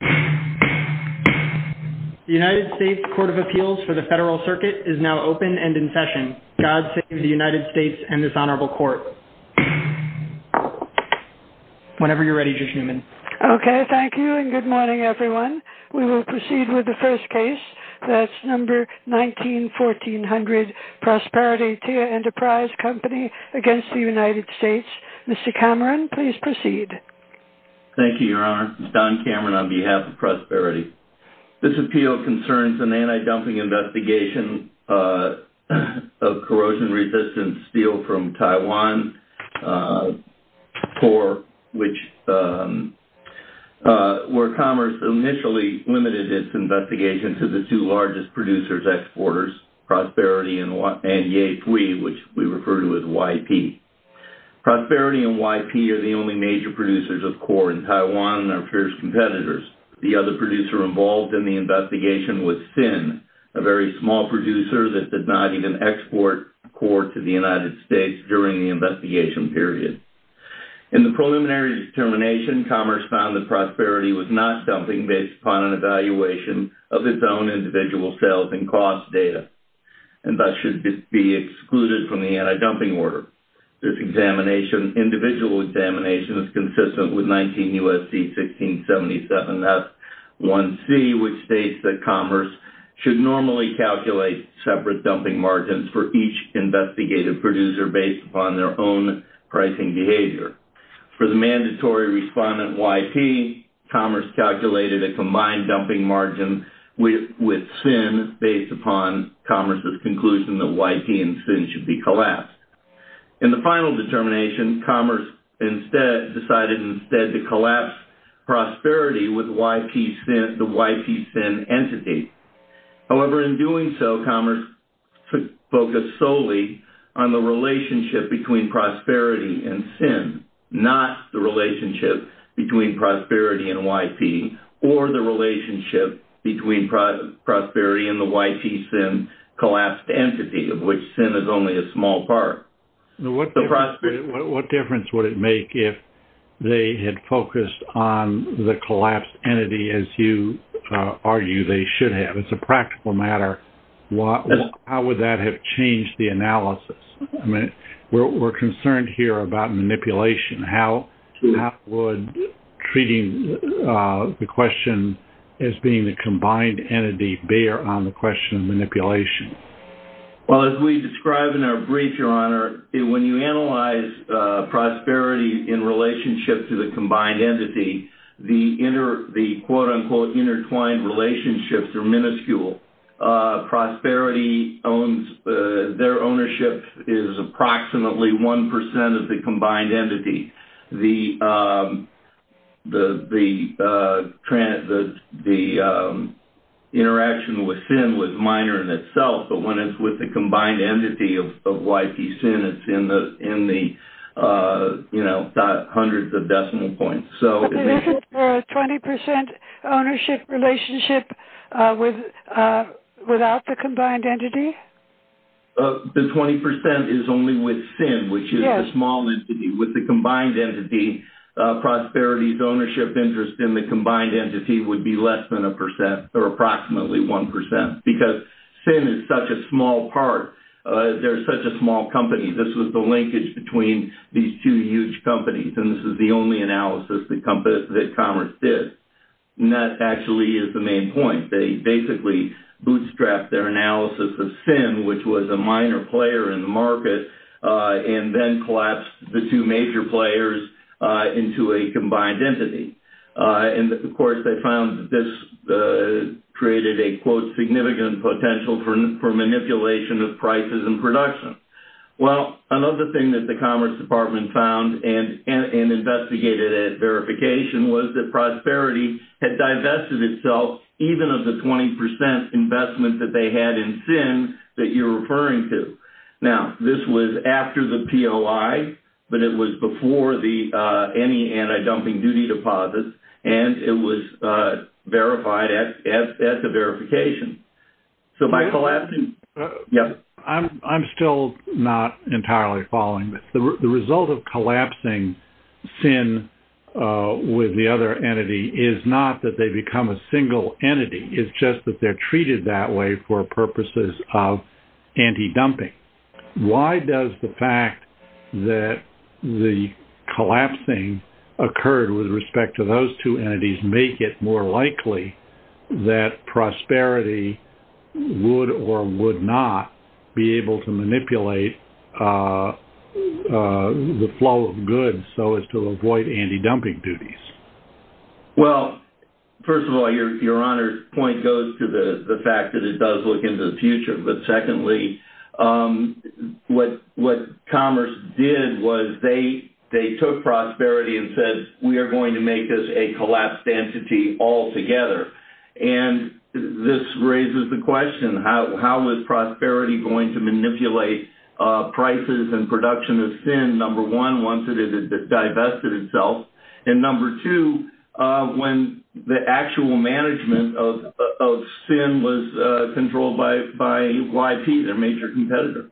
The United States Court of Appeals for the Federal Circuit is now open and in session. God save the United States and this honorable court. Whenever you're ready, Judge Newman. Okay, thank you and good morning, everyone. We will proceed with the first case. That's number 191400, Prosperity Tieh Enterprise Co. v. United States. Mr. Cameron, please proceed. Thank you, Your Honor. This is Don Cameron on behalf of Prosperity. This appeal concerns an anti-dumping investigation of corrosion-resistant steel from Taiwan, where Commerce initially limited its investigation to the two largest producers-exporters, Prosperity and Yihui, which we refer to as YP. Prosperity and YP are the only major producers of core in Taiwan and are fierce competitors. The other producer involved in the investigation was SIN, a very small producer that did not even export core to the United States during the investigation period. In the preliminary determination, Commerce found that Prosperity was not dumping based upon an evaluation of its own individual sales and cost data and thus should be excluded from the anti-dumping order. This individual examination is consistent with 19 U.S.C. 1677-1C, which states that Commerce should normally calculate separate dumping margins for each investigative producer based upon their own pricing behavior. For the mandatory respondent, YP, Commerce calculated a combined dumping margin with SIN based upon Commerce's conclusion that YP and SIN should be collapsed. In the final determination, Commerce decided instead to collapse Prosperity with the YP-SIN entity. However, in doing so, Commerce focused solely on the relationship between Prosperity and SIN, not the relationship between Prosperity and YP or the relationship between Prosperity and the YP-SIN collapsed entity, of which SIN is only a small part. What difference would it make if they had focused on the collapsed entity, as you argue they should have? It's a practical matter. How would that have changed the analysis? We're concerned here about manipulation. How would treating the question as being the combined entity bear on the question of manipulation? Well, as we describe in our brief, Your Honor, when you analyze Prosperity in relationship to the combined entity, the quote-unquote intertwined relationships are minuscule. Prosperity, their ownership is approximately 1% of the combined entity. The interaction with SIN was minor in itself, but when it's with the combined entity of YP-SIN, it's in the hundreds of decimal points. Is it a 20% ownership relationship without the combined entity? The 20% is only with SIN, which is a small entity. With the combined entity, Prosperity's ownership interest in the combined entity would be less than 1%, or approximately 1%, because SIN is such a small part. They're such a small company. This was the linkage between these two huge companies, and this is the only analysis that Commerce did. And that actually is the main point. They basically bootstrapped their analysis of SIN, which was a minor player in the market, and then collapsed the two major players into a combined entity. And, of course, they found that this created a, quote, significant potential for manipulation of prices and production. Well, another thing that the Commerce Department found and investigated at verification was that Prosperity had divested itself, even of the 20% investment that they had in SIN that you're referring to. Now, this was after the POI, but it was before any anti-dumping duty deposits, and it was verified at the verification. So by collapsing... I'm still not entirely following this. The result of collapsing SIN with the other entity is not that they become a single entity. It's just that they're treated that way for purposes of anti-dumping. Why does the fact that the collapsing occurred with respect to those two entities make it more likely that Prosperity would or would not be able to manipulate the flow of goods so as to avoid anti-dumping duties? Well, first of all, your honor's point goes to the fact that it does look into the future. But secondly, what Commerce did was they took Prosperity and said, we are going to make this a collapsed entity altogether. And this raises the question, how is Prosperity going to manipulate prices and production of SIN, number one, once it has divested itself, and number two, when the actual management of SIN was controlled by YP, their major competitor.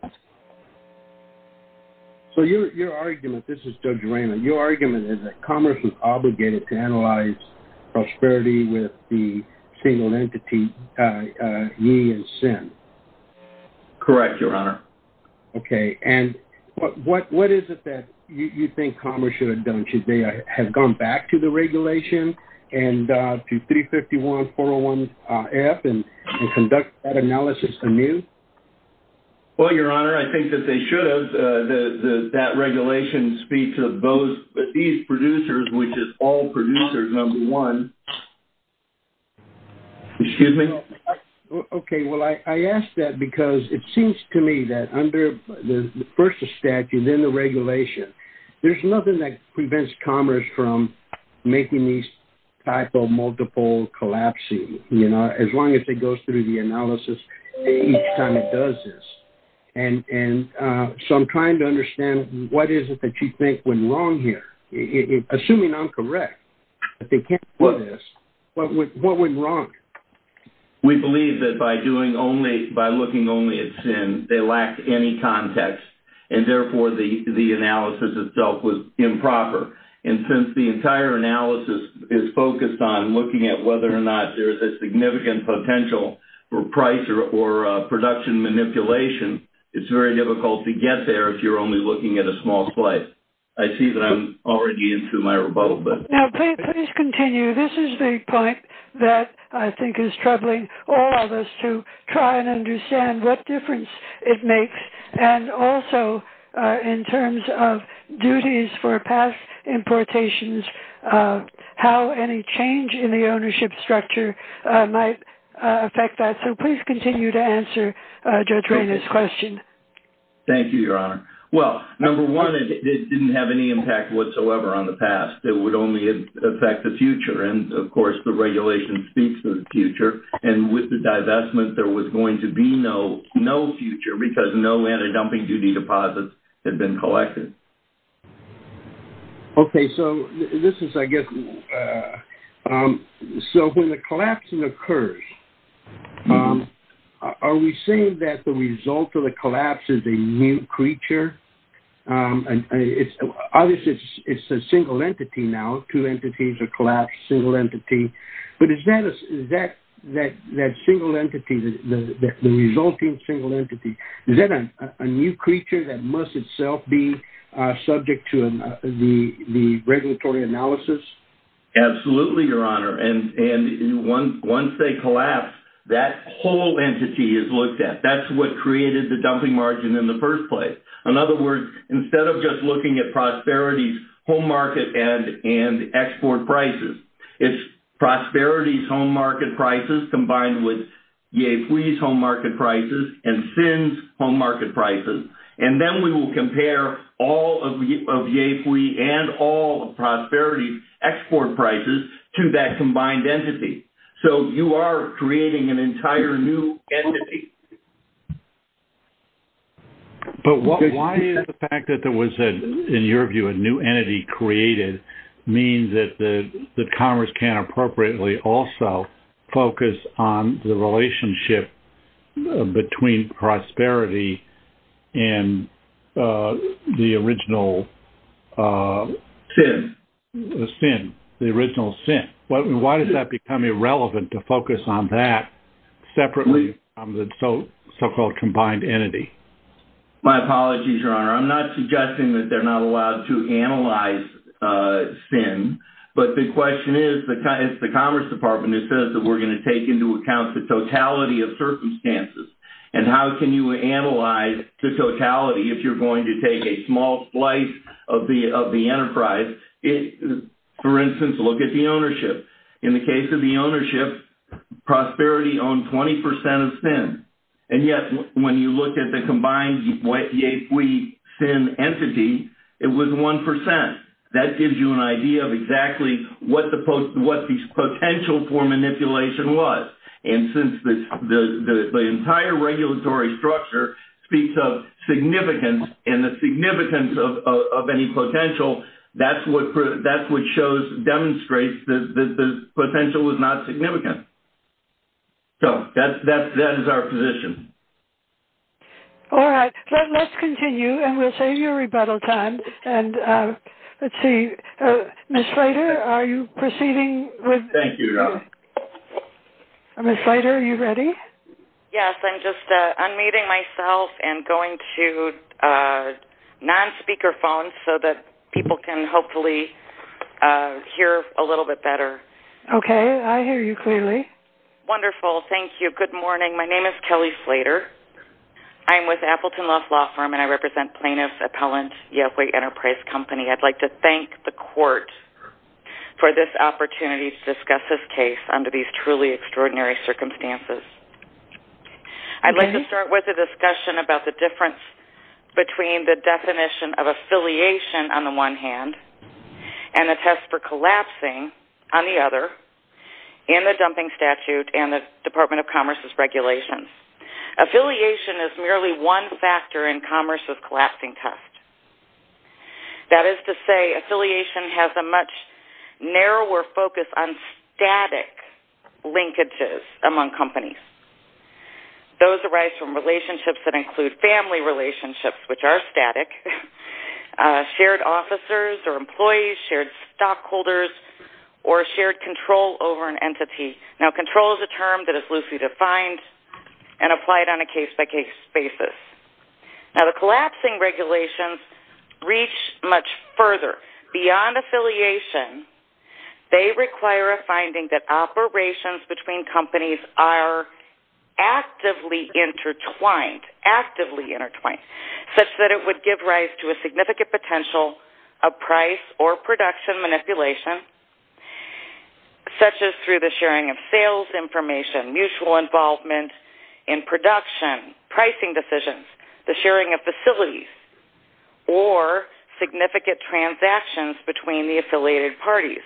So your argument, this is Judge Raymond, your argument is that Commerce was obligated to analyze Prosperity with the single entity, YI and SIN. Correct, your honor. Okay, and what is it that you think Commerce should have done? Should they have gone back to the regulation and to 351-401-F and conduct that analysis anew? Well, your honor, I think that they should have. That regulation speaks of these producers, which is all producers, number one. Excuse me? Okay, well, I ask that because it seems to me that under, first the statute, then the regulation, there's nothing that prevents Commerce from making these type of multiple collapsing, you know, as long as it goes through the analysis each time it does this. And so I'm trying to understand what is it that you think went wrong here? Assuming I'm correct, that they can't do this, what went wrong? We believe that by doing only, by looking only at SIN, they lack any context, and therefore the analysis itself was improper. And since the entire analysis is focused on looking at whether or not there's a significant potential for price or production manipulation, it's very difficult to get there if you're only looking at a small slice. I see that I'm already into my rebuttal. Now, please continue. This is the point that I think is troubling all of us to try and understand what difference it makes, and also in terms of duties for past importations, how any change in the ownership structure might affect that. So please continue to answer Judge Rainer's question. Thank you, Your Honor. Well, number one, it didn't have any impact whatsoever on the past. It would only affect the future. And, of course, the regulation speaks to the future. And with the divestment, there was going to be no future because no anti-dumping duty deposits had been collected. Okay. So this is, I guess, so when the collapsing occurs, are we saying that the result of the collapse is a new creature? Obviously, it's a single entity now. Two entities are collapsed, single entity. But is that single entity, the resulting single entity, is that a new creature that must itself be subject to the regulatory analysis? Absolutely, Your Honor. And once they collapse, that whole entity is looked at. That's what created the dumping margin in the first place. In other words, instead of just looking at prosperity, home market, and export prices, it's prosperity's home market prices combined with Yafui's home market prices and Sin's home market prices. And then we will compare all of Yafui and all of prosperity's export prices to that combined entity. So you are creating an entire new entity. But why is the fact that there was, in your view, a new entity created, means that Congress can't appropriately also focus on the relationship between prosperity and the original Sin? Why does that become irrelevant to focus on that separately from the so-called combined entity? My apologies, Your Honor. I'm not suggesting that they're not allowed to analyze Sin. But the question is, it's the Commerce Department that says that we're going to take into account the totality of circumstances. And how can you analyze the totality if you're going to take a small slice of the enterprise? For instance, look at the ownership. In the case of the ownership, prosperity owned 20% of Sin. And yet, when you look at the combined Yafui-Sin entity, it was 1%. That gives you an idea of exactly what the potential for manipulation was. And since the entire regulatory structure speaks of significance, and the significance of any potential, that's what demonstrates that the potential was not significant. So that is our position. All right. Let's continue, and we'll save you rebuttal time. And let's see. Ms. Slater, are you proceeding? Thank you, Your Honor. Ms. Slater, are you ready? Yes, I'm just unmuting myself and going to non-speaker phones so that people can hopefully hear a little bit better. Okay. I hear you clearly. Wonderful. Thank you. Good morning. My name is Kelly Slater. I am with Appleton Love Law Firm, and I represent Plaintiff Appellant Yafui Enterprise Company. I'd like to thank the Court for this opportunity to discuss this case under these truly extraordinary circumstances. I'd like to start with a discussion about the difference between the definition of affiliation, on the one hand, and a test for collapsing, on the other, in the dumping statute and the Department of Commerce's regulations. Affiliation is merely one factor in Commerce's collapsing test. That is to say, affiliation has a much narrower focus on static linkages among companies. Those arise from relationships that include family relationships, which are static, shared officers or employees, shared stockholders, or shared control over an entity. Now, control is a term that is loosely defined and applied on a case-by-case basis. Now, the collapsing regulations reach much further. Beyond affiliation, they require a finding that operations between companies are actively intertwined, such that it would give rise to a significant potential of price or production manipulation, such as through the sharing of sales information, mutual involvement in production, pricing decisions, the sharing of facilities, or significant transactions between the affiliated parties.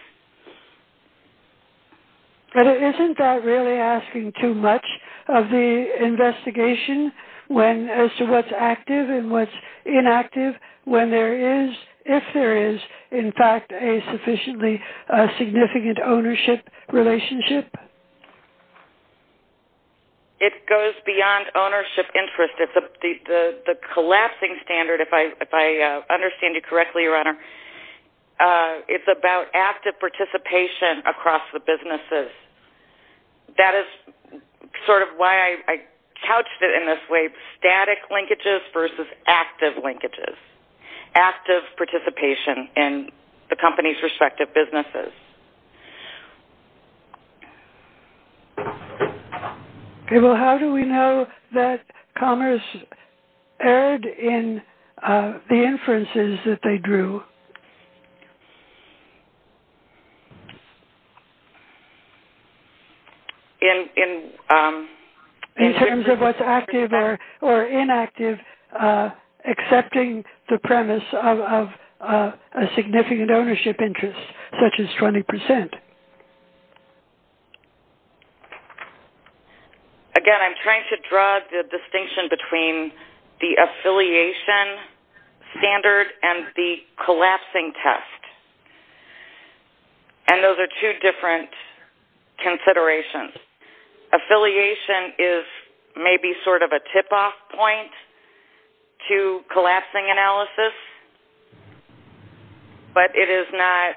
But isn't that really asking too much of the investigation as to what's active and what's inactive when there is, if there is, in fact, a sufficiently significant ownership relationship? It goes beyond ownership interest. The collapsing standard, if I understand you correctly, Your Honor, it's about active participation across the businesses. That is sort of why I couched it in this way, static linkages versus active linkages, active participation in the company's respective businesses. Okay. Well, how do we know that Commerce erred in the inferences that they drew? In terms of what's active or inactive, accepting the premise of a significant ownership interest, such as 20%. Again, I'm trying to draw the distinction between the affiliation standard and the collapsing test. And those are two different considerations. Affiliation is maybe sort of a tip-off point to collapsing analysis, but it is not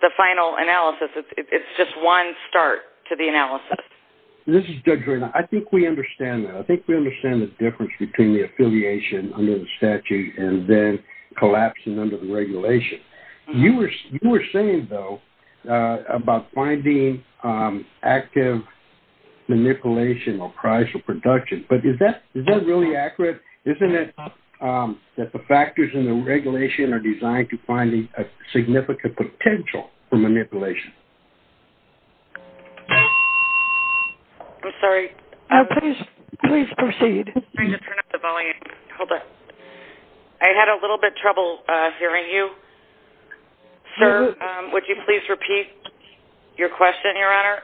the final analysis. It's just one start to the analysis. This is Judge Reynolds. I think we understand that. We understand the difference between the affiliation under the statute and then collapsing under the regulation. You were saying, though, about finding active manipulation or price or production, but is that really accurate? Isn't it that the factors in the regulation are designed to find a significant potential for manipulation? I'm sorry. Please proceed. I'm trying to turn up the volume. Hold on. I had a little bit of trouble hearing you. Sir, would you please repeat your question, Your Honor?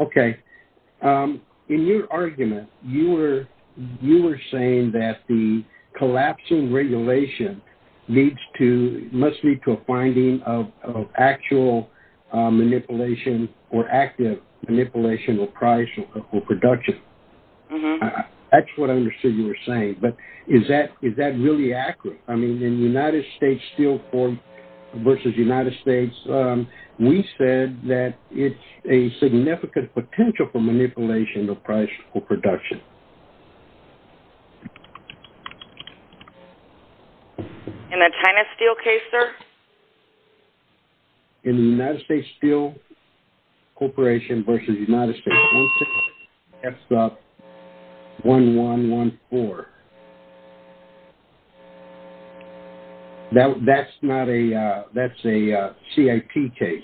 Okay. In your argument, you were saying that the collapsing regulation must lead to a finding of actual manipulation or active manipulation or price or production. That's what I understood you were saying, but is that really accurate? I mean, in United States Steel versus United States, we said that it's a significant potential for manipulation or price or production. In the China Steel case, sir? In United States Steel Corporation versus United States Corporation, that's 1114. That's a CIP case.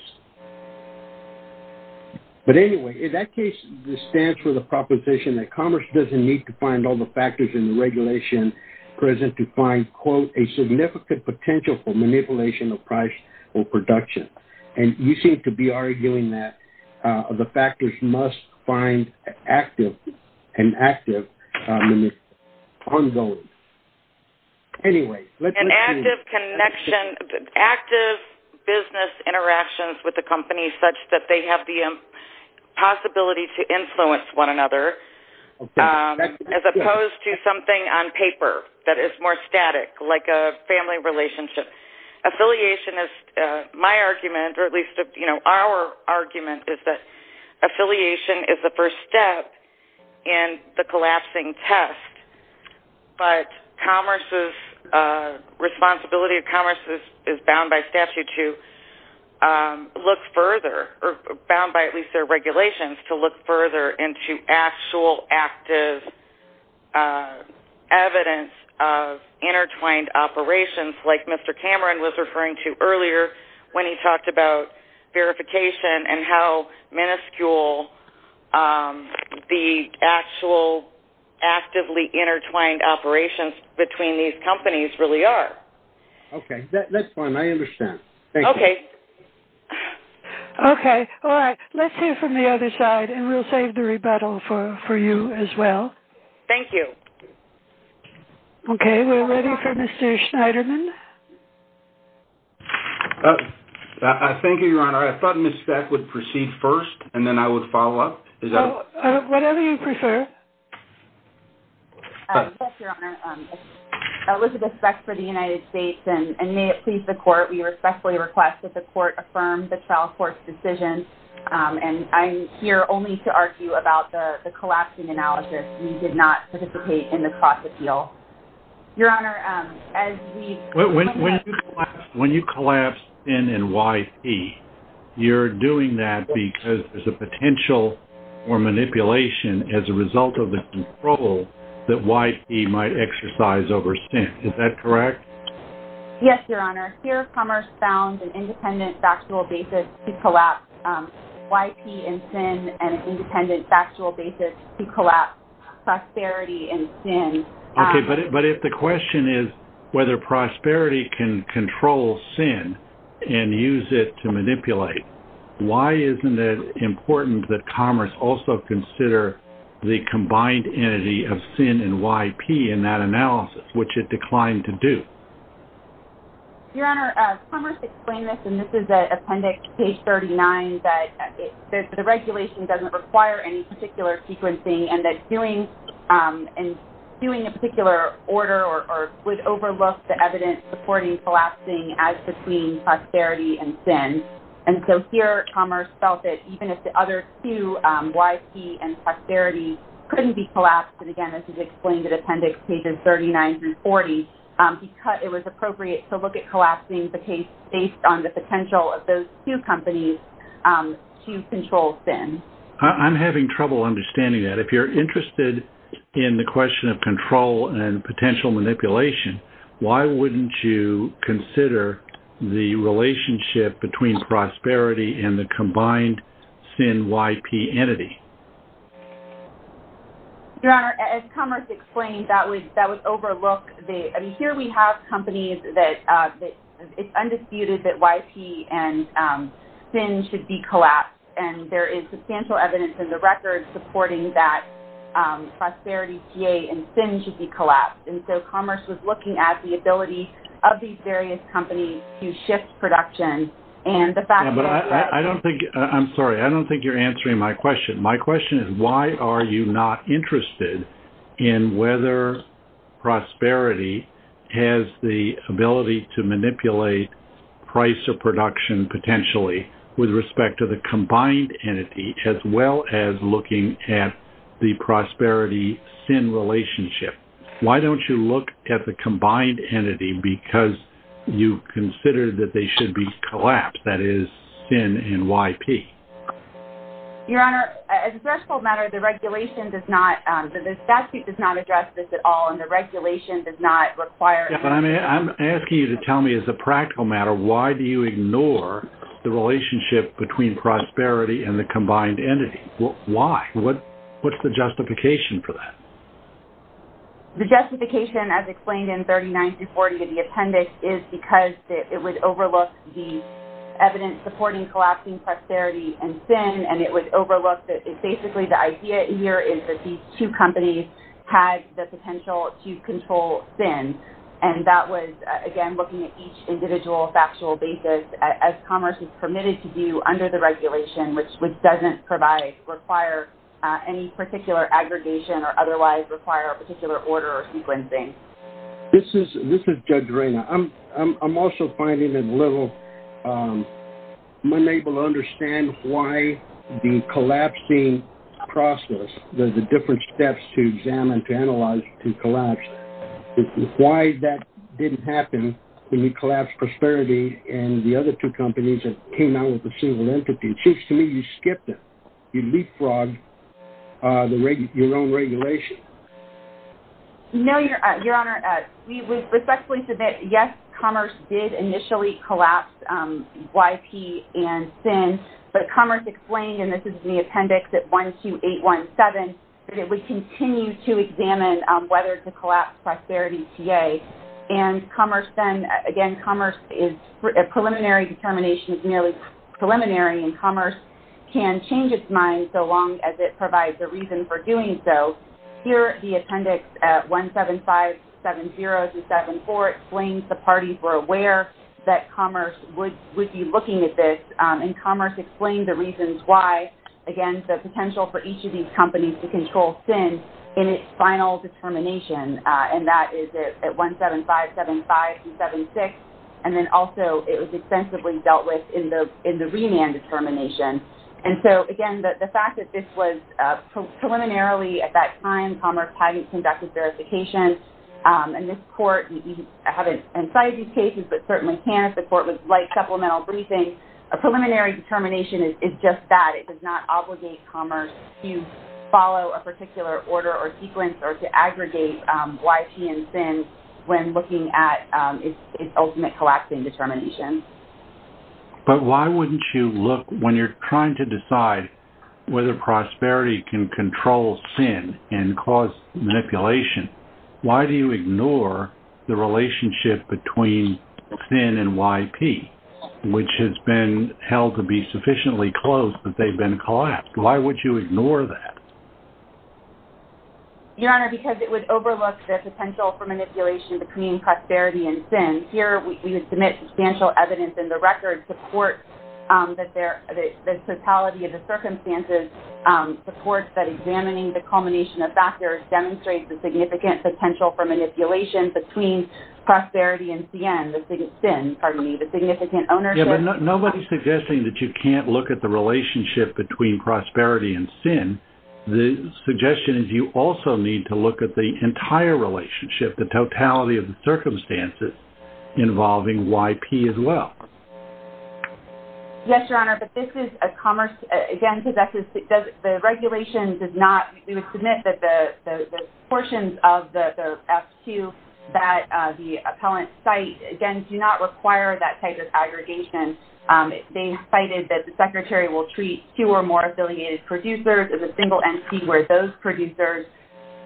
But anyway, in that case, this stands for the proposition that commerce doesn't need to find all the factors in the regulation present to find, quote, a significant potential for manipulation or price or production. And you seem to be arguing that the factors must find active and active manipulation. Ongoing. Anyway, let's continue. An active connection, active business interactions with the company such that they have the possibility to influence one another as opposed to something on paper that is more static, like a family relationship. Affiliation is my argument, or at least our argument, is that affiliation is the first step in the collapsing test. But commerce's responsibility of commerce is bound by statute to look further, or bound by at least their regulations to look further into actual active evidence of intertwined operations, like Mr. Cameron was referring to earlier when he talked about verification and how minuscule the actual actively intertwined operations between these companies really are. Okay. I understand. Thank you. Okay. Okay. All right. Let's hear from the other side, and we'll save the rebuttal for you as well. Thank you. Okay. We're ready for Mr. Schneiderman. Thank you, Your Honor. I thought Ms. Speck would proceed first, and then I would follow up. Whatever you prefer. Yes, Your Honor. Elizabeth Speck for the United States, and may it please the Court, we respectfully request that the Court affirm the trial court's decision, and I'm here only to argue about the collapsing analysis. We did not participate in the cross-appeal. Your Honor, as we- When you collapse SIN and YP, you're doing that because there's a potential for manipulation as a result of the control that YP might exercise over SIN. Is that correct? Yes, Your Honor. Here, Commerce found an independent factual basis to collapse YP and SIN and an independent factual basis to collapse Prosperity and SIN. Okay, but if the question is whether Prosperity can control SIN and use it to manipulate, why isn't it important that Commerce also consider the combined entity of SIN and YP in that analysis, which it declined to do? Your Honor, Commerce explained this, and this is at appendix page 39, that the regulation doesn't require any particular sequencing and that doing a particular order would overlook the evidence supporting collapsing as between Prosperity and SIN. And so here, Commerce felt that even if the other two, YP and Prosperity, couldn't be collapsed, and again, this is explained at appendix pages 39 through 40, it was appropriate to look at collapsing the case based on the potential of those two companies to control SIN. I'm having trouble understanding that. If you're interested in the question of control and potential manipulation, why wouldn't you consider the relationship between Prosperity and the combined SIN-YP entity? Your Honor, as Commerce explained, that would overlook the – I mean, here we have companies that it's undisputed that YP and SIN should be collapsed, and there is substantial evidence in the record supporting that Prosperity, PA, and SIN should be collapsed. And so Commerce was looking at the ability of these various companies to shift production, and the fact that – Yeah, but I don't think – I'm sorry, I don't think you're answering my question. My question is why are you not interested in whether Prosperity has the ability to manipulate price or production potentially with respect to the combined entity, as well as looking at the Prosperity-SIN relationship? Why don't you look at the combined entity because you consider that they should be collapsed, that is, SIN and YP? Your Honor, as a threshold matter, the regulation does not – the statute does not address this at all, and the regulation does not require – Yeah, but I'm asking you to tell me as a practical matter, why do you ignore the relationship between Prosperity and the combined entity? Why? What's the justification for that? The justification, as explained in 39-40 in the appendix, is because it would overlook the evidence supporting collapsing Prosperity and SIN, and it would overlook – basically, the idea here is that these two companies had the potential to control SIN, and that was, again, looking at each individual factual basis as Commerce is permitted to do under the regulation, which doesn't require any particular aggregation or otherwise require a particular order or sequencing. This is Judge Reyna. I'm also finding it a little – I'm unable to understand why the collapsing process, the different steps to examine, to analyze, to collapse, why that didn't happen when you collapsed Prosperity and the other two companies that came out with the single entity. It seems to me you skipped it. You leapfrogged your own regulation. No, Your Honor. We respectfully submit, yes, Commerce did initially collapse YP and SIN, but Commerce explained – and this is in the appendix at 12817 – that it would continue to examine whether to collapse Prosperity TA, and Commerce then – again, Commerce is – preliminary determination is merely preliminary, and Commerce can change its mind so long as it provides a reason for doing so. Here, the appendix at 17570-74 explains the parties were aware that Commerce would be looking at this, and Commerce explained the reasons why, again, the potential for each of these companies to control SIN in its final determination, and that is at 17575-76, and then also it was extensively dealt with in the remand determination. And so, again, the fact that this was preliminarily at that time Commerce hadn't conducted verification, and this Court – you haven't incited these cases, but certainly can if the Court would like supplemental briefing. A preliminary determination is just that. It does not obligate Commerce to follow a particular order or sequence or to aggregate YP and SIN when looking at its ultimate collapsing determination. But why wouldn't you look – when you're trying to decide whether Prosperity can control SIN and cause manipulation, why do you ignore the relationship between SIN and YP, which has been held to be sufficiently close, but they've been collapsed? Why would you ignore that? Your Honor, because it would overlook the potential for manipulation between Prosperity and SIN. Here, we would submit substantial evidence in the record to the Court that there – significant potential for manipulation between Prosperity and SIN, the significant ownership. Yeah, but nobody's suggesting that you can't look at the relationship between Prosperity and SIN. The suggestion is you also need to look at the entire relationship, the totality of the circumstances involving YP as well. Yes, Your Honor, but this is a Commerce – again, because the regulation does not – the portions of the FQ that the appellant cite, again, do not require that type of aggregation. They cited that the Secretary will treat two or more affiliated producers as a single entity where those producers –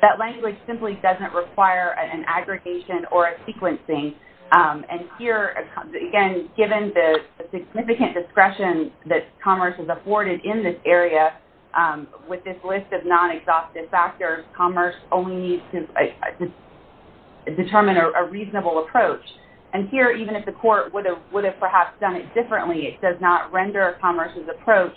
that language simply doesn't require an aggregation or a sequencing. And here, again, given the significant discretion that Commerce has afforded in this area, with this list of non-exhaustive factors, Commerce only needs to determine a reasonable approach. And here, even if the Court would have perhaps done it differently, it does not render Commerce's approach,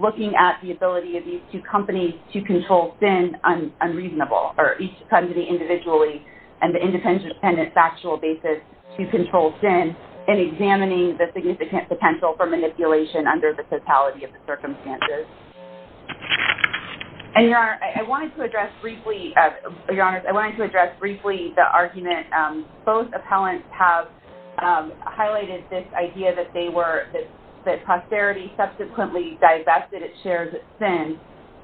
looking at the ability of these two companies to control SIN, unreasonable. Or each company individually on an independent factual basis to control SIN and examining the significant potential for manipulation under the totality of the circumstances. And, Your Honor, I wanted to address briefly – Your Honors, I wanted to address briefly the argument – both appellants have highlighted this idea that they were – that Prosperity subsequently divested its share of SIN.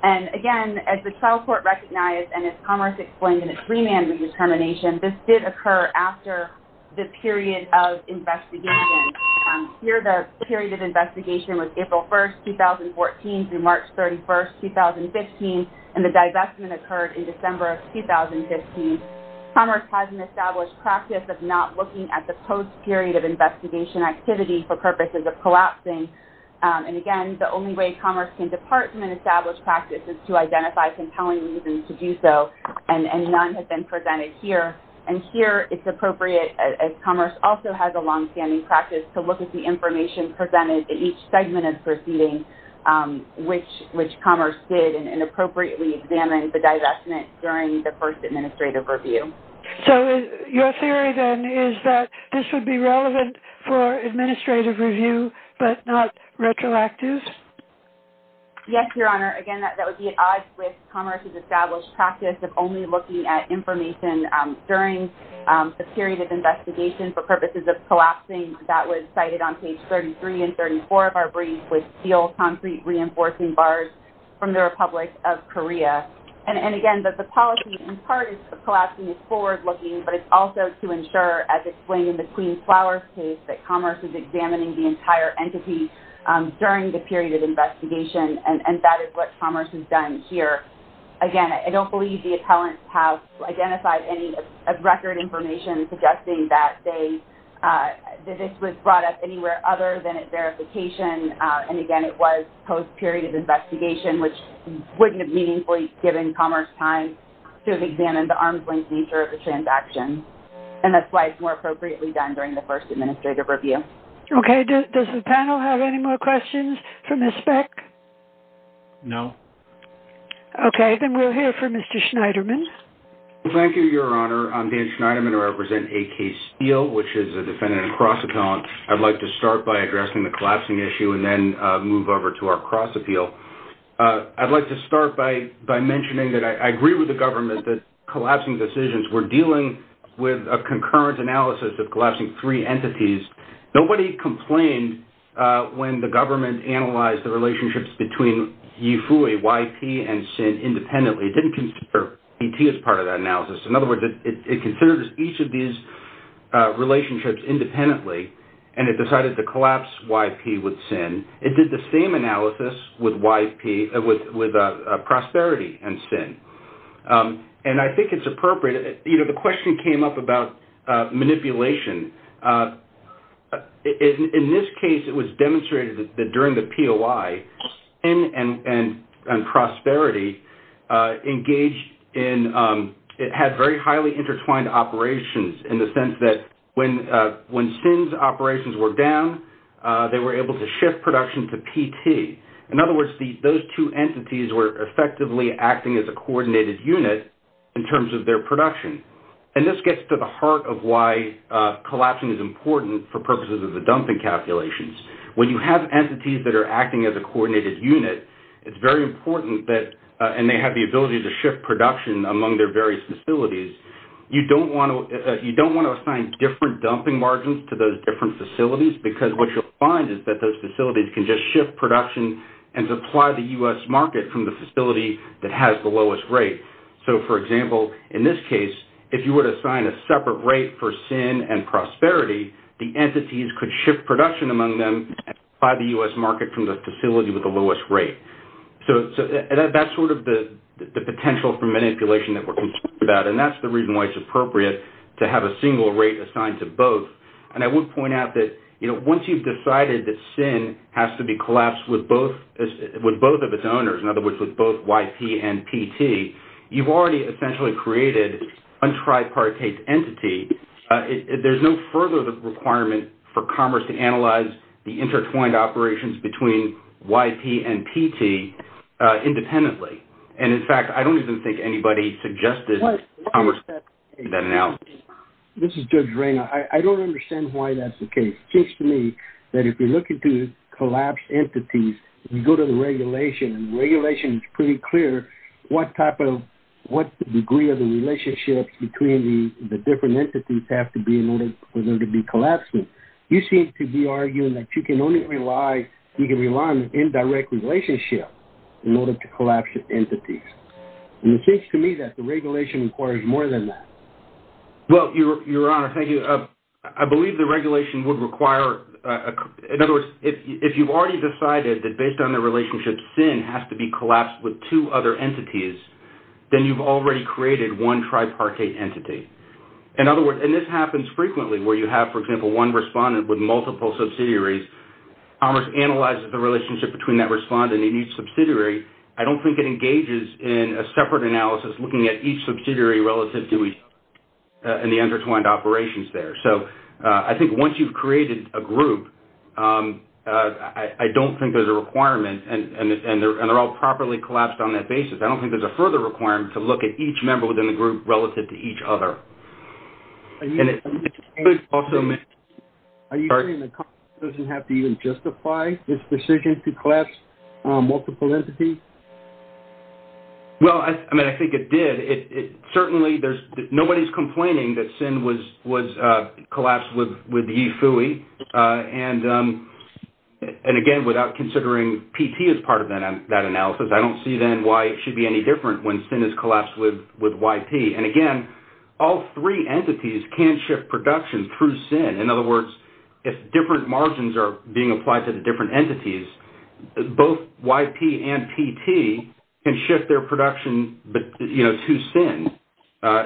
And, again, as the trial court recognized and as Commerce explained in its remand redetermination, this did occur after the period of investigation. Here, the period of investigation was April 1st, 2014 through March 31st, 2015, and the divestment occurred in December of 2015. Commerce has an established practice of not looking at the post-period of investigation activity for purposes of collapsing. And, again, the only way Commerce can depart from an established practice is to identify compelling reasons to do so, and none have been presented here. And here, it's appropriate, as Commerce also has a longstanding practice, to look at the information presented in each segment of the proceeding, which Commerce did inappropriately examine the divestment during the first administrative review. So, your theory, then, is that this would be relevant for administrative review but not retroactive? Yes, Your Honor. Again, that would be at odds with Commerce's established practice of only looking at information during the period of investigation for purposes of collapsing. That was cited on page 33 and 34 of our brief with steel concrete reinforcing bars from the Republic of Korea. And, again, the policy, in part, is collapsing is forward-looking, but it's also to ensure, as explained in the Queen's Flowers case, that Commerce is examining the entire entity during the period of investigation, and that is what Commerce has done here. Again, I don't believe the appellants have identified any record information suggesting that this was brought up anywhere other than at verification, and, again, it was post-period of investigation, which wouldn't have meaningfully given Commerce time to examine the arm's-length nature of the transaction, and that's why it's more appropriately done during the first administrative review. Okay. Does the panel have any more questions for Ms. Speck? No. Okay. Then we'll hear from Mr. Schneiderman. Thank you, Your Honor. I'm Dan Schneiderman. I represent AK Steel, which is a defendant in a cross appellant. I'd like to start by addressing the collapsing issue and then move over to our cross appeal. I'd like to start by mentioning that I agree with the government that collapsing decisions, we're dealing with a concurrent analysis of collapsing three entities. Nobody complained when the government analyzed the relationships between Yifui, YP, and SIN independently. It didn't consider PT as part of that analysis. In other words, it considered each of these relationships independently, and it decided to collapse YP with SIN. It did the same analysis with YP, with Prosperity and SIN, and I think it's appropriate. You know, the question came up about manipulation. In this case, it was demonstrated that during the POI, SIN and Prosperity engaged in, it had very highly intertwined operations in the sense that when SIN's operations were down, they were able to shift production to PT. In other words, those two entities were effectively acting as a coordinated unit in terms of their production. And this gets to the heart of why collapsing is important for purposes of the dumping calculations. When you have entities that are acting as a coordinated unit, it's very important that, and they have the ability to shift production among their various facilities. You don't want to assign different dumping margins to those different facilities because what you'll find is that those facilities can just shift production and supply the U.S. market from the facility that has the lowest rate. So, for example, in this case, if you were to assign a separate rate for SIN and Prosperity, the entities could shift production among them and supply the U.S. market from the facility with the lowest rate. So, that's sort of the potential for manipulation that we're concerned about, and that's the reason why it's appropriate to have a single rate assigned to both. And I would point out that, you know, once you've decided that SIN has to be collapsed with both of its owners, in other words, with both YP and PT, you've already essentially created a tripartite entity. There's no further requirement for Commerce to analyze the intertwined operations between YP and PT independently. And, in fact, I don't even think anybody suggested Commerce did that analysis. This is Judge Rayner. I don't understand why that's the case. It seems to me that if you're looking to collapse entities, you go to the regulation, and the regulation is pretty clear what type of what degree of the relationships between the different entities have to be in order for them to be collapsing. You seem to be arguing that you can only rely you can rely on an indirect relationship in order to collapse entities. And it seems to me that the regulation requires more than that. Well, Your Honor, thank you. I believe the regulation would require in other words, if you've already decided that based on the relationship, SIN has to be collapsed with two other entities, then you've already created one tripartite entity. In other words, and this happens frequently where you have, for example, one respondent with multiple subsidiaries. Commerce analyzes the relationship between that respondent and each subsidiary. I don't think it engages in a separate analysis looking at each subsidiary relative to each and the intertwined operations there. So I think once you've created a group, I don't think there's a requirement and they're all properly collapsed on that basis. I don't think there's a further requirement to look at each member within the group relative to each other. Are you saying that Commerce doesn't have to even justify its decision to collapse multiple entities? Well, I mean, I think it did. Certainly, nobody's complaining that SIN was collapsed with Yifui. And again, without considering PT as part of that analysis, I don't see then why it should be any different when SIN is collapsed with YP. And again, all three entities can shift production through SIN. In other words, if different margins are being applied to the different entities, both YP and PT can shift their production to SIN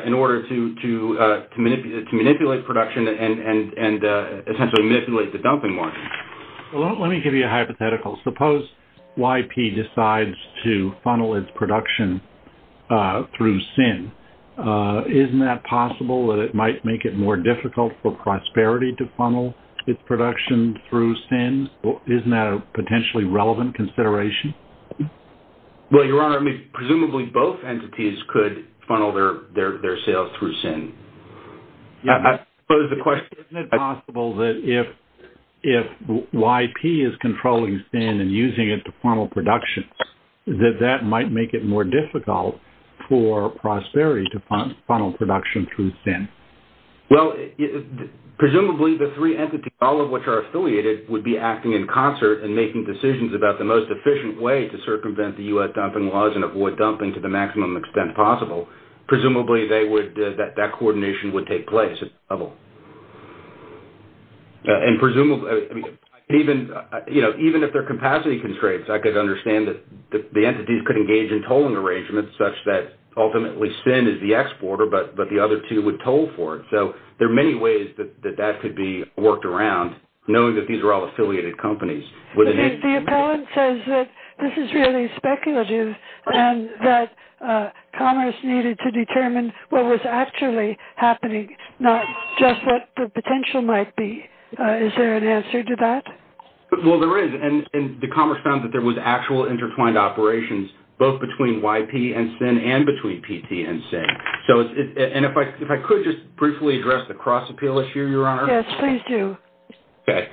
in order to manipulate production and essentially manipulate the dumping margin. Well, let me give you a hypothetical. Suppose YP decides to funnel its production through SIN. Isn't that possible that it might make it more difficult for Prosperity to funnel its production through SIN? Isn't that a potentially relevant consideration? Well, Your Honor, I mean, presumably both entities could funnel their sales through SIN. Isn't it possible that if YP is controlling SIN and using it to funnel production, that that might make it more difficult for Prosperity to funnel production through SIN? Well, presumably the three entities, all of which are affiliated, would be acting in concert and making decisions about the most efficient way to circumvent the U.S. dumping laws and avoid dumping to the maximum extent possible. Presumably that coordination would take place at that level. And presumably, even if there are capacity constraints, I could understand that the entities could engage in tolling arrangements such that ultimately SIN is the exporter but the other two would toll for it. So there are many ways that that could be worked around, knowing that these are all affiliated companies. The appellant says that this is really speculative and that Commerce needed to determine what was actually happening, not just what the potential might be. Is there an answer to that? Well, there is. And the Commerce found that there was actual intertwined operations both between YP and SIN and between PT and SIN. And if I could just briefly address the cross-appeal issue, Your Honor? Yes, please do. Okay.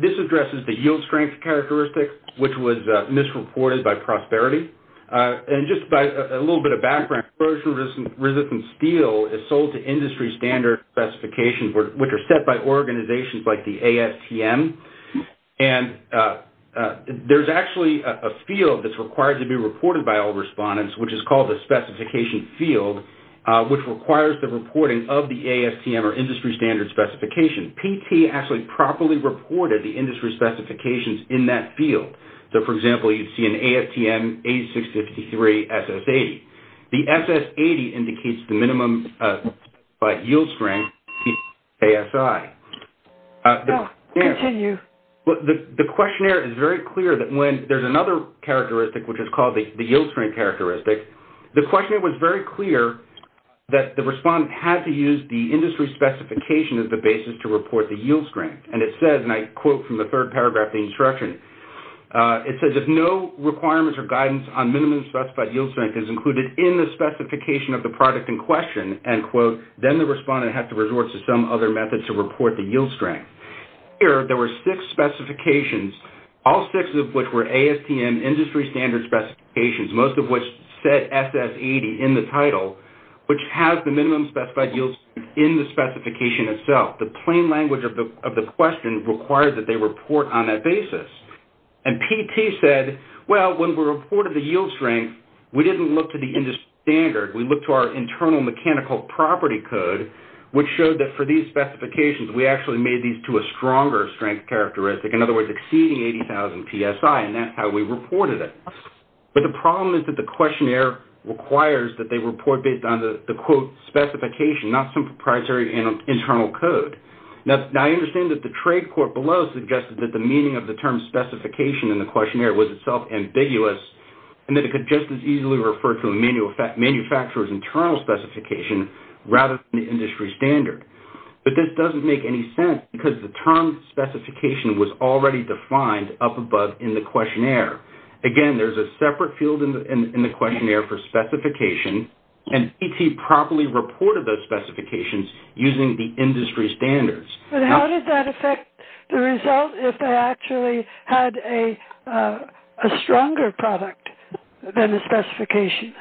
This addresses the yield strength characteristics, which was misreported by Prosperity. And just a little bit of background, corrosion-resistant steel is sold to industry standard specifications, which are set by organizations like the ASTM. And there's actually a field that's required to be reported by all respondents, which is called the specification field, which requires the reporting of the ASTM or industry standard specification. PT actually properly reported the industry specifications in that field. So, for example, you'd see an ASTM 8653 SS80. The SS80 indicates the minimum yield strength, ASI. Go ahead. Continue. The questionnaire is very clear that when there's another characteristic, which is called the yield strength characteristic, the questionnaire was very clear that the respondent had to use the industry specification as the basis to report the yield strength. And it says, and I quote from the third paragraph of the instruction, it says if no requirements or guidance on minimum specified yield strength is included in the specification of the product in question, end quote, then the respondent has to resort to some other method to report the yield strength. Here, there were six specifications, all six of which were ASTM industry standard specifications, most of which said SS80 in the title, which has the minimum specified yield strength in the specification itself. The plain language of the question required that they report on that basis. And PT said, well, when we reported the yield strength, we didn't look to the industry standard. We looked to our internal mechanical property code, which showed that for these specifications, we actually made these to a stronger strength characteristic, in other words, exceeding 80,000 PSI, and that's how we reported it. But the problem is that the questionnaire requires that they report based on the, quote, specification, not some proprietary internal code. Now, I understand that the trade court below suggested that the meaning of the term specification in the questionnaire was itself ambiguous, and that it could just as easily refer to a manufacturer's internal specification rather than the industry standard. But this doesn't make any sense because the term specification was already defined up above in the questionnaire. Again, there's a separate field in the questionnaire for specification, and PT properly reported those specifications using the industry standards. But how did that affect the result if they actually had a stronger product than the specification?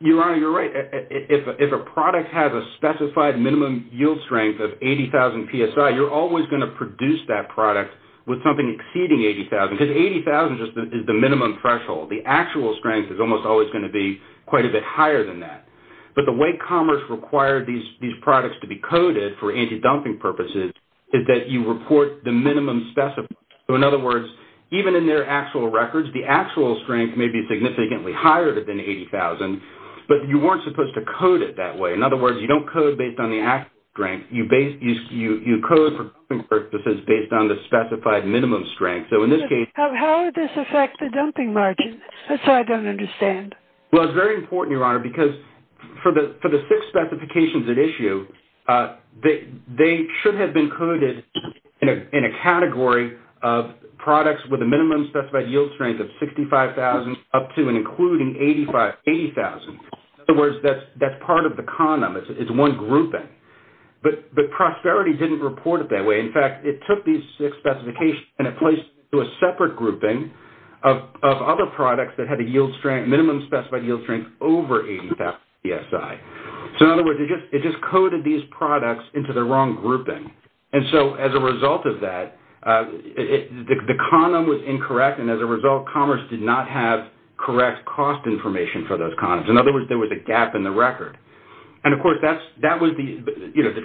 Your Honor, you're right. If a product has a specified minimum yield strength of 80,000 PSI, you're always going to produce that product with something exceeding 80,000 because 80,000 is the minimum threshold. The actual strength is almost always going to be quite a bit higher than that. But the way commerce required these products to be coded for anti-dumping purposes is that you report the minimum specified. In other words, even in their actual records, the actual strength may be significantly higher than 80,000, but you weren't supposed to code it that way. In other words, you don't code based on the actual strength. You code for purposes based on the specified minimum strength. How would this affect the dumping margin? That's what I don't understand. Well, it's very important, Your Honor, because for the six specifications at issue, they should have been coded in a category of products with a minimum specified yield strength of 65,000 up to and including 80,000. In other words, that's part of the condom. It's one grouping. But Prosperity didn't report it that way. In fact, it took these six specifications and it placed them into a separate grouping of other products that had a minimum specified yield strength over 80,000 PSI. So, in other words, it just coded these products into the wrong grouping. And so, as a result of that, the condom was incorrect, and as a result, Commerce did not have correct cost information for those condoms. In other words, there was a gap in the record. And, of course, the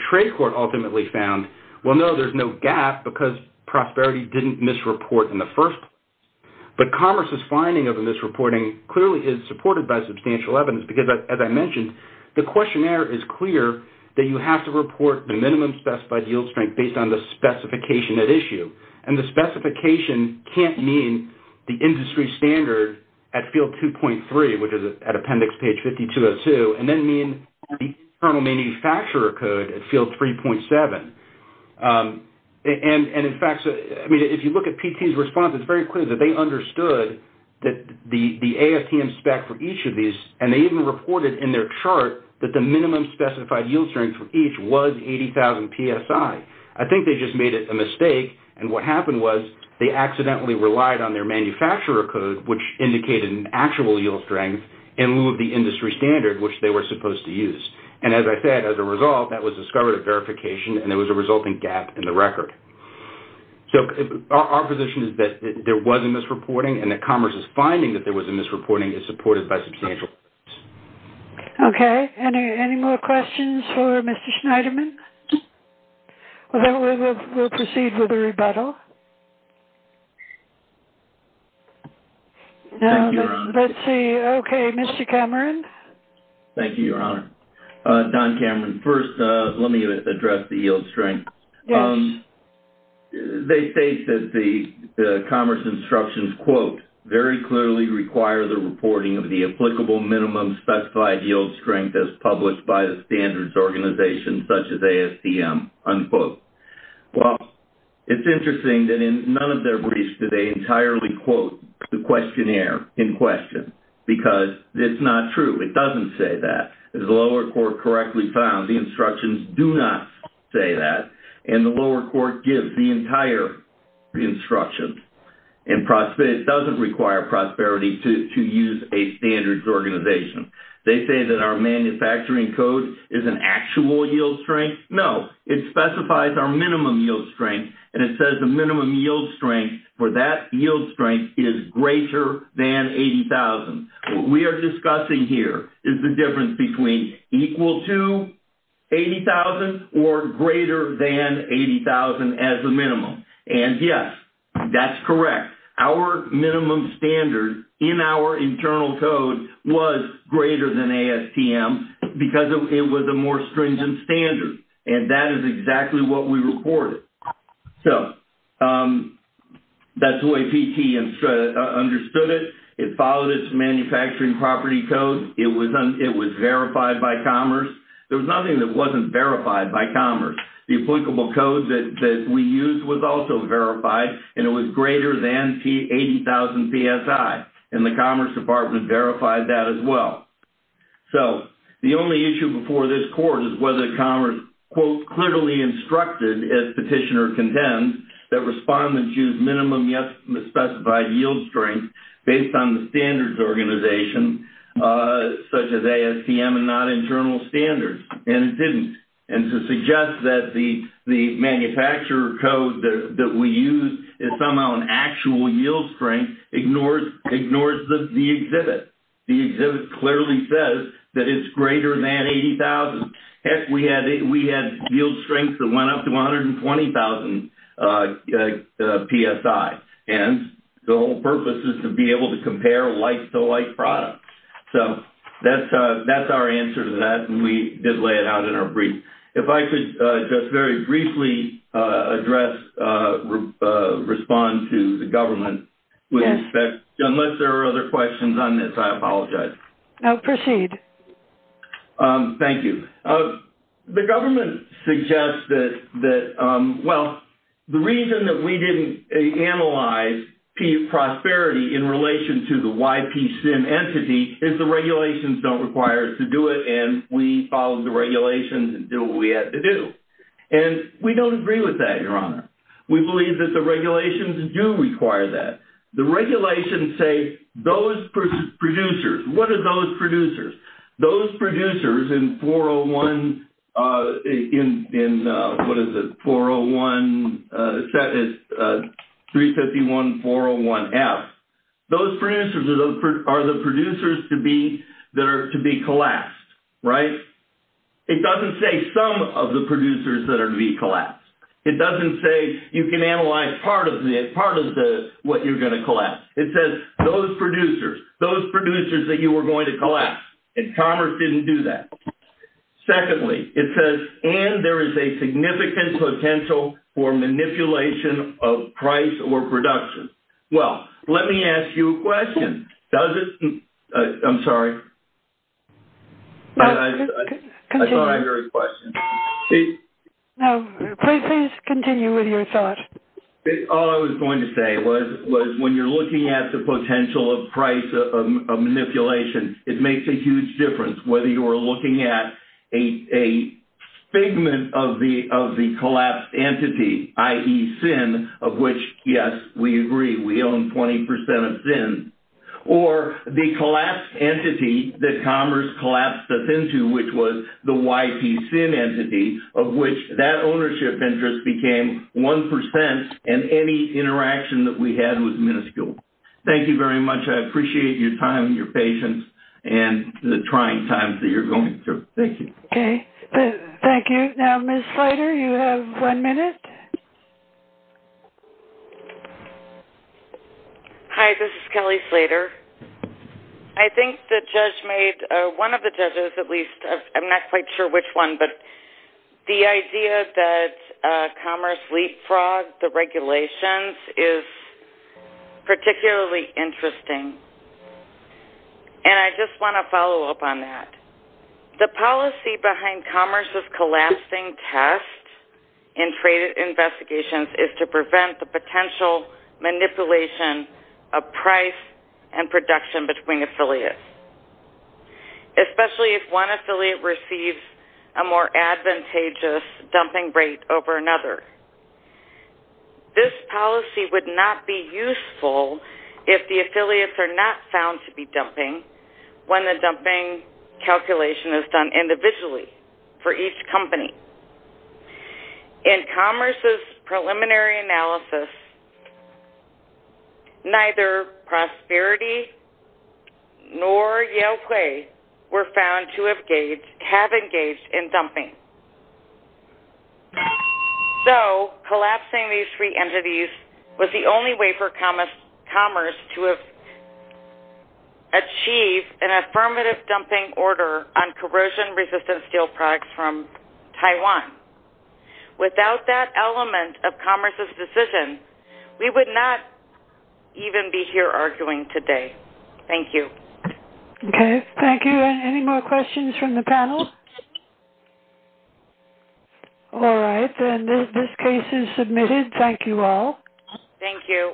trade court ultimately found, well, no, there's no gap because Prosperity didn't misreport in the first place. But Commerce's finding of the misreporting clearly is supported by The questionnaire is clear that you have to report the minimum specified yield strength based on the specification at issue. And the specification can't mean the industry standard at field 2.3, which is at appendix page 5202, and then mean the internal manufacturer code at field 3.7. And, in fact, if you look at PT's response, it's very clear that they understood the AFTM spec for each of these, and they even reported in their chart that the minimum specified yield strength for each was 80,000 PSI. I think they just made a mistake, and what happened was they accidentally relied on their manufacturer code, which indicated an actual yield strength, in lieu of the industry standard, which they were supposed to use. And, as I said, as a result, that was discovered at verification, and there was a resulting gap in the record. So, our position is that there was a misreporting, and that Commerce's finding that there was a misreporting is supported by substantial evidence. Okay. Any more questions for Mr. Schneiderman? Then we'll proceed with the rebuttal. Thank you, Your Honor. Let's see. Okay. Mr. Cameron. Thank you, Your Honor. Don Cameron. First, let me address the yield strength. Yes. They state that the Commerce instructions, quote, very clearly require the reporting of the applicable minimum specified yield strength as published by the standards organization, such as ASDM, unquote. Well, it's interesting that in none of their briefs do they entirely quote the questionnaire in question, because it's not true. It doesn't say that. As the lower court correctly found, the instructions do not say that, and the lower court gives the entire instructions, and it doesn't require Prosperity to use a standards organization. They say that our manufacturing code is an actual yield strength. No. It specifies our minimum yield strength, and it says the minimum yield strength for that yield strength is greater than 80,000. What we are discussing here is the difference between equal to 80,000 or greater than 80,000 as a minimum. And, yes, that's correct. Our minimum standard in our internal code was greater than ASTM, because it was a more stringent standard, and that is exactly what we reported. So that's the way PT understood it. It followed its manufacturing property code. It was verified by Commerce. There was nothing that wasn't verified by Commerce. The applicable code that we used was also verified, and it was greater than 80,000 PSI, and the Commerce Department verified that as well. So the only issue before this court is whether Commerce, quote, clearly instructed, as Petitioner contends, that respondents use minimum, yes, specified yield strength based on the standards organization, such as ASTM and not internal standards, and it didn't. And to suggest that the manufacturer code that we use is somehow an actual yield strength ignores the exhibit. The exhibit clearly says that it's greater than 80,000. Heck, we had yield strength that went up to 120,000 PSI, and the whole purpose is to be able to compare like-to-like products. So that's our answer to that, and we did lay it out in our brief. If I could just very briefly address, respond to the government, unless there are other questions on this, I apologize. No, proceed. Thank you. The government suggests that, well, the reason that we didn't analyze P prosperity in relation to the YPCM entity is the regulations don't require us to do it, and we follow the regulations and do what we have to do. And we don't agree with that, Your Honor. We believe that the regulations do require that. The regulations say those producers, what are those producers? Those producers in 401, in what is it, 401, 351-401F, those producers are the producers to be collapsed, right? It doesn't say some of the producers that are to be collapsed. It doesn't say you can analyze part of what you're going to collapse. It says those producers, those producers that you were going to collapse, and Commerce didn't do that. Secondly, it says, and there is a significant potential for manipulation of price or production. Well, let me ask you a question. Does it, I'm sorry. I thought I heard a question. No, please continue with your thought. All I was going to say was when you're looking at the potential of price manipulation, it makes a huge difference, whether you are looking at a figment of the collapsed entity, i.e., SIN, of which, yes, we agree, we own 20% of SIN, or the collapsed entity that Commerce collapsed us into, which was the YPCIN entity, of which that ownership interest became 1%, and any interaction that we had was minuscule. Thank you very much. I appreciate your time, your patience, and the trying times that you're going through. Thank you. Okay. Thank you. Now, Ms. Slater, you have one minute. Hi, this is Kelly Slater. I think the judge made, one of the judges at least, I'm not quite sure which one, but the idea that Commerce leapfrogged the regulations is particularly interesting, and I just want to follow up on that. The policy behind Commerce's collapsing test in trade investigations is to prevent the potential manipulation of price and production between affiliates, especially if one affiliate receives a more advantageous dumping rate over another. This policy would not be useful if the affiliates are not found to be dumping when the dumping calculation is done individually for each company. In Commerce's preliminary analysis, neither Prosperity nor Yale Quay were found to have engaged in dumping. So, collapsing these three entities was the only way for Commerce to achieve an affirmative dumping order on corrosion-resistant steel products from Taiwan. Without that element of Commerce's decision, we would not even be here arguing today. Thank you. Okay. Thank you. Any more questions from the panel? All right. Then this case is submitted. Thank you all. Thank you.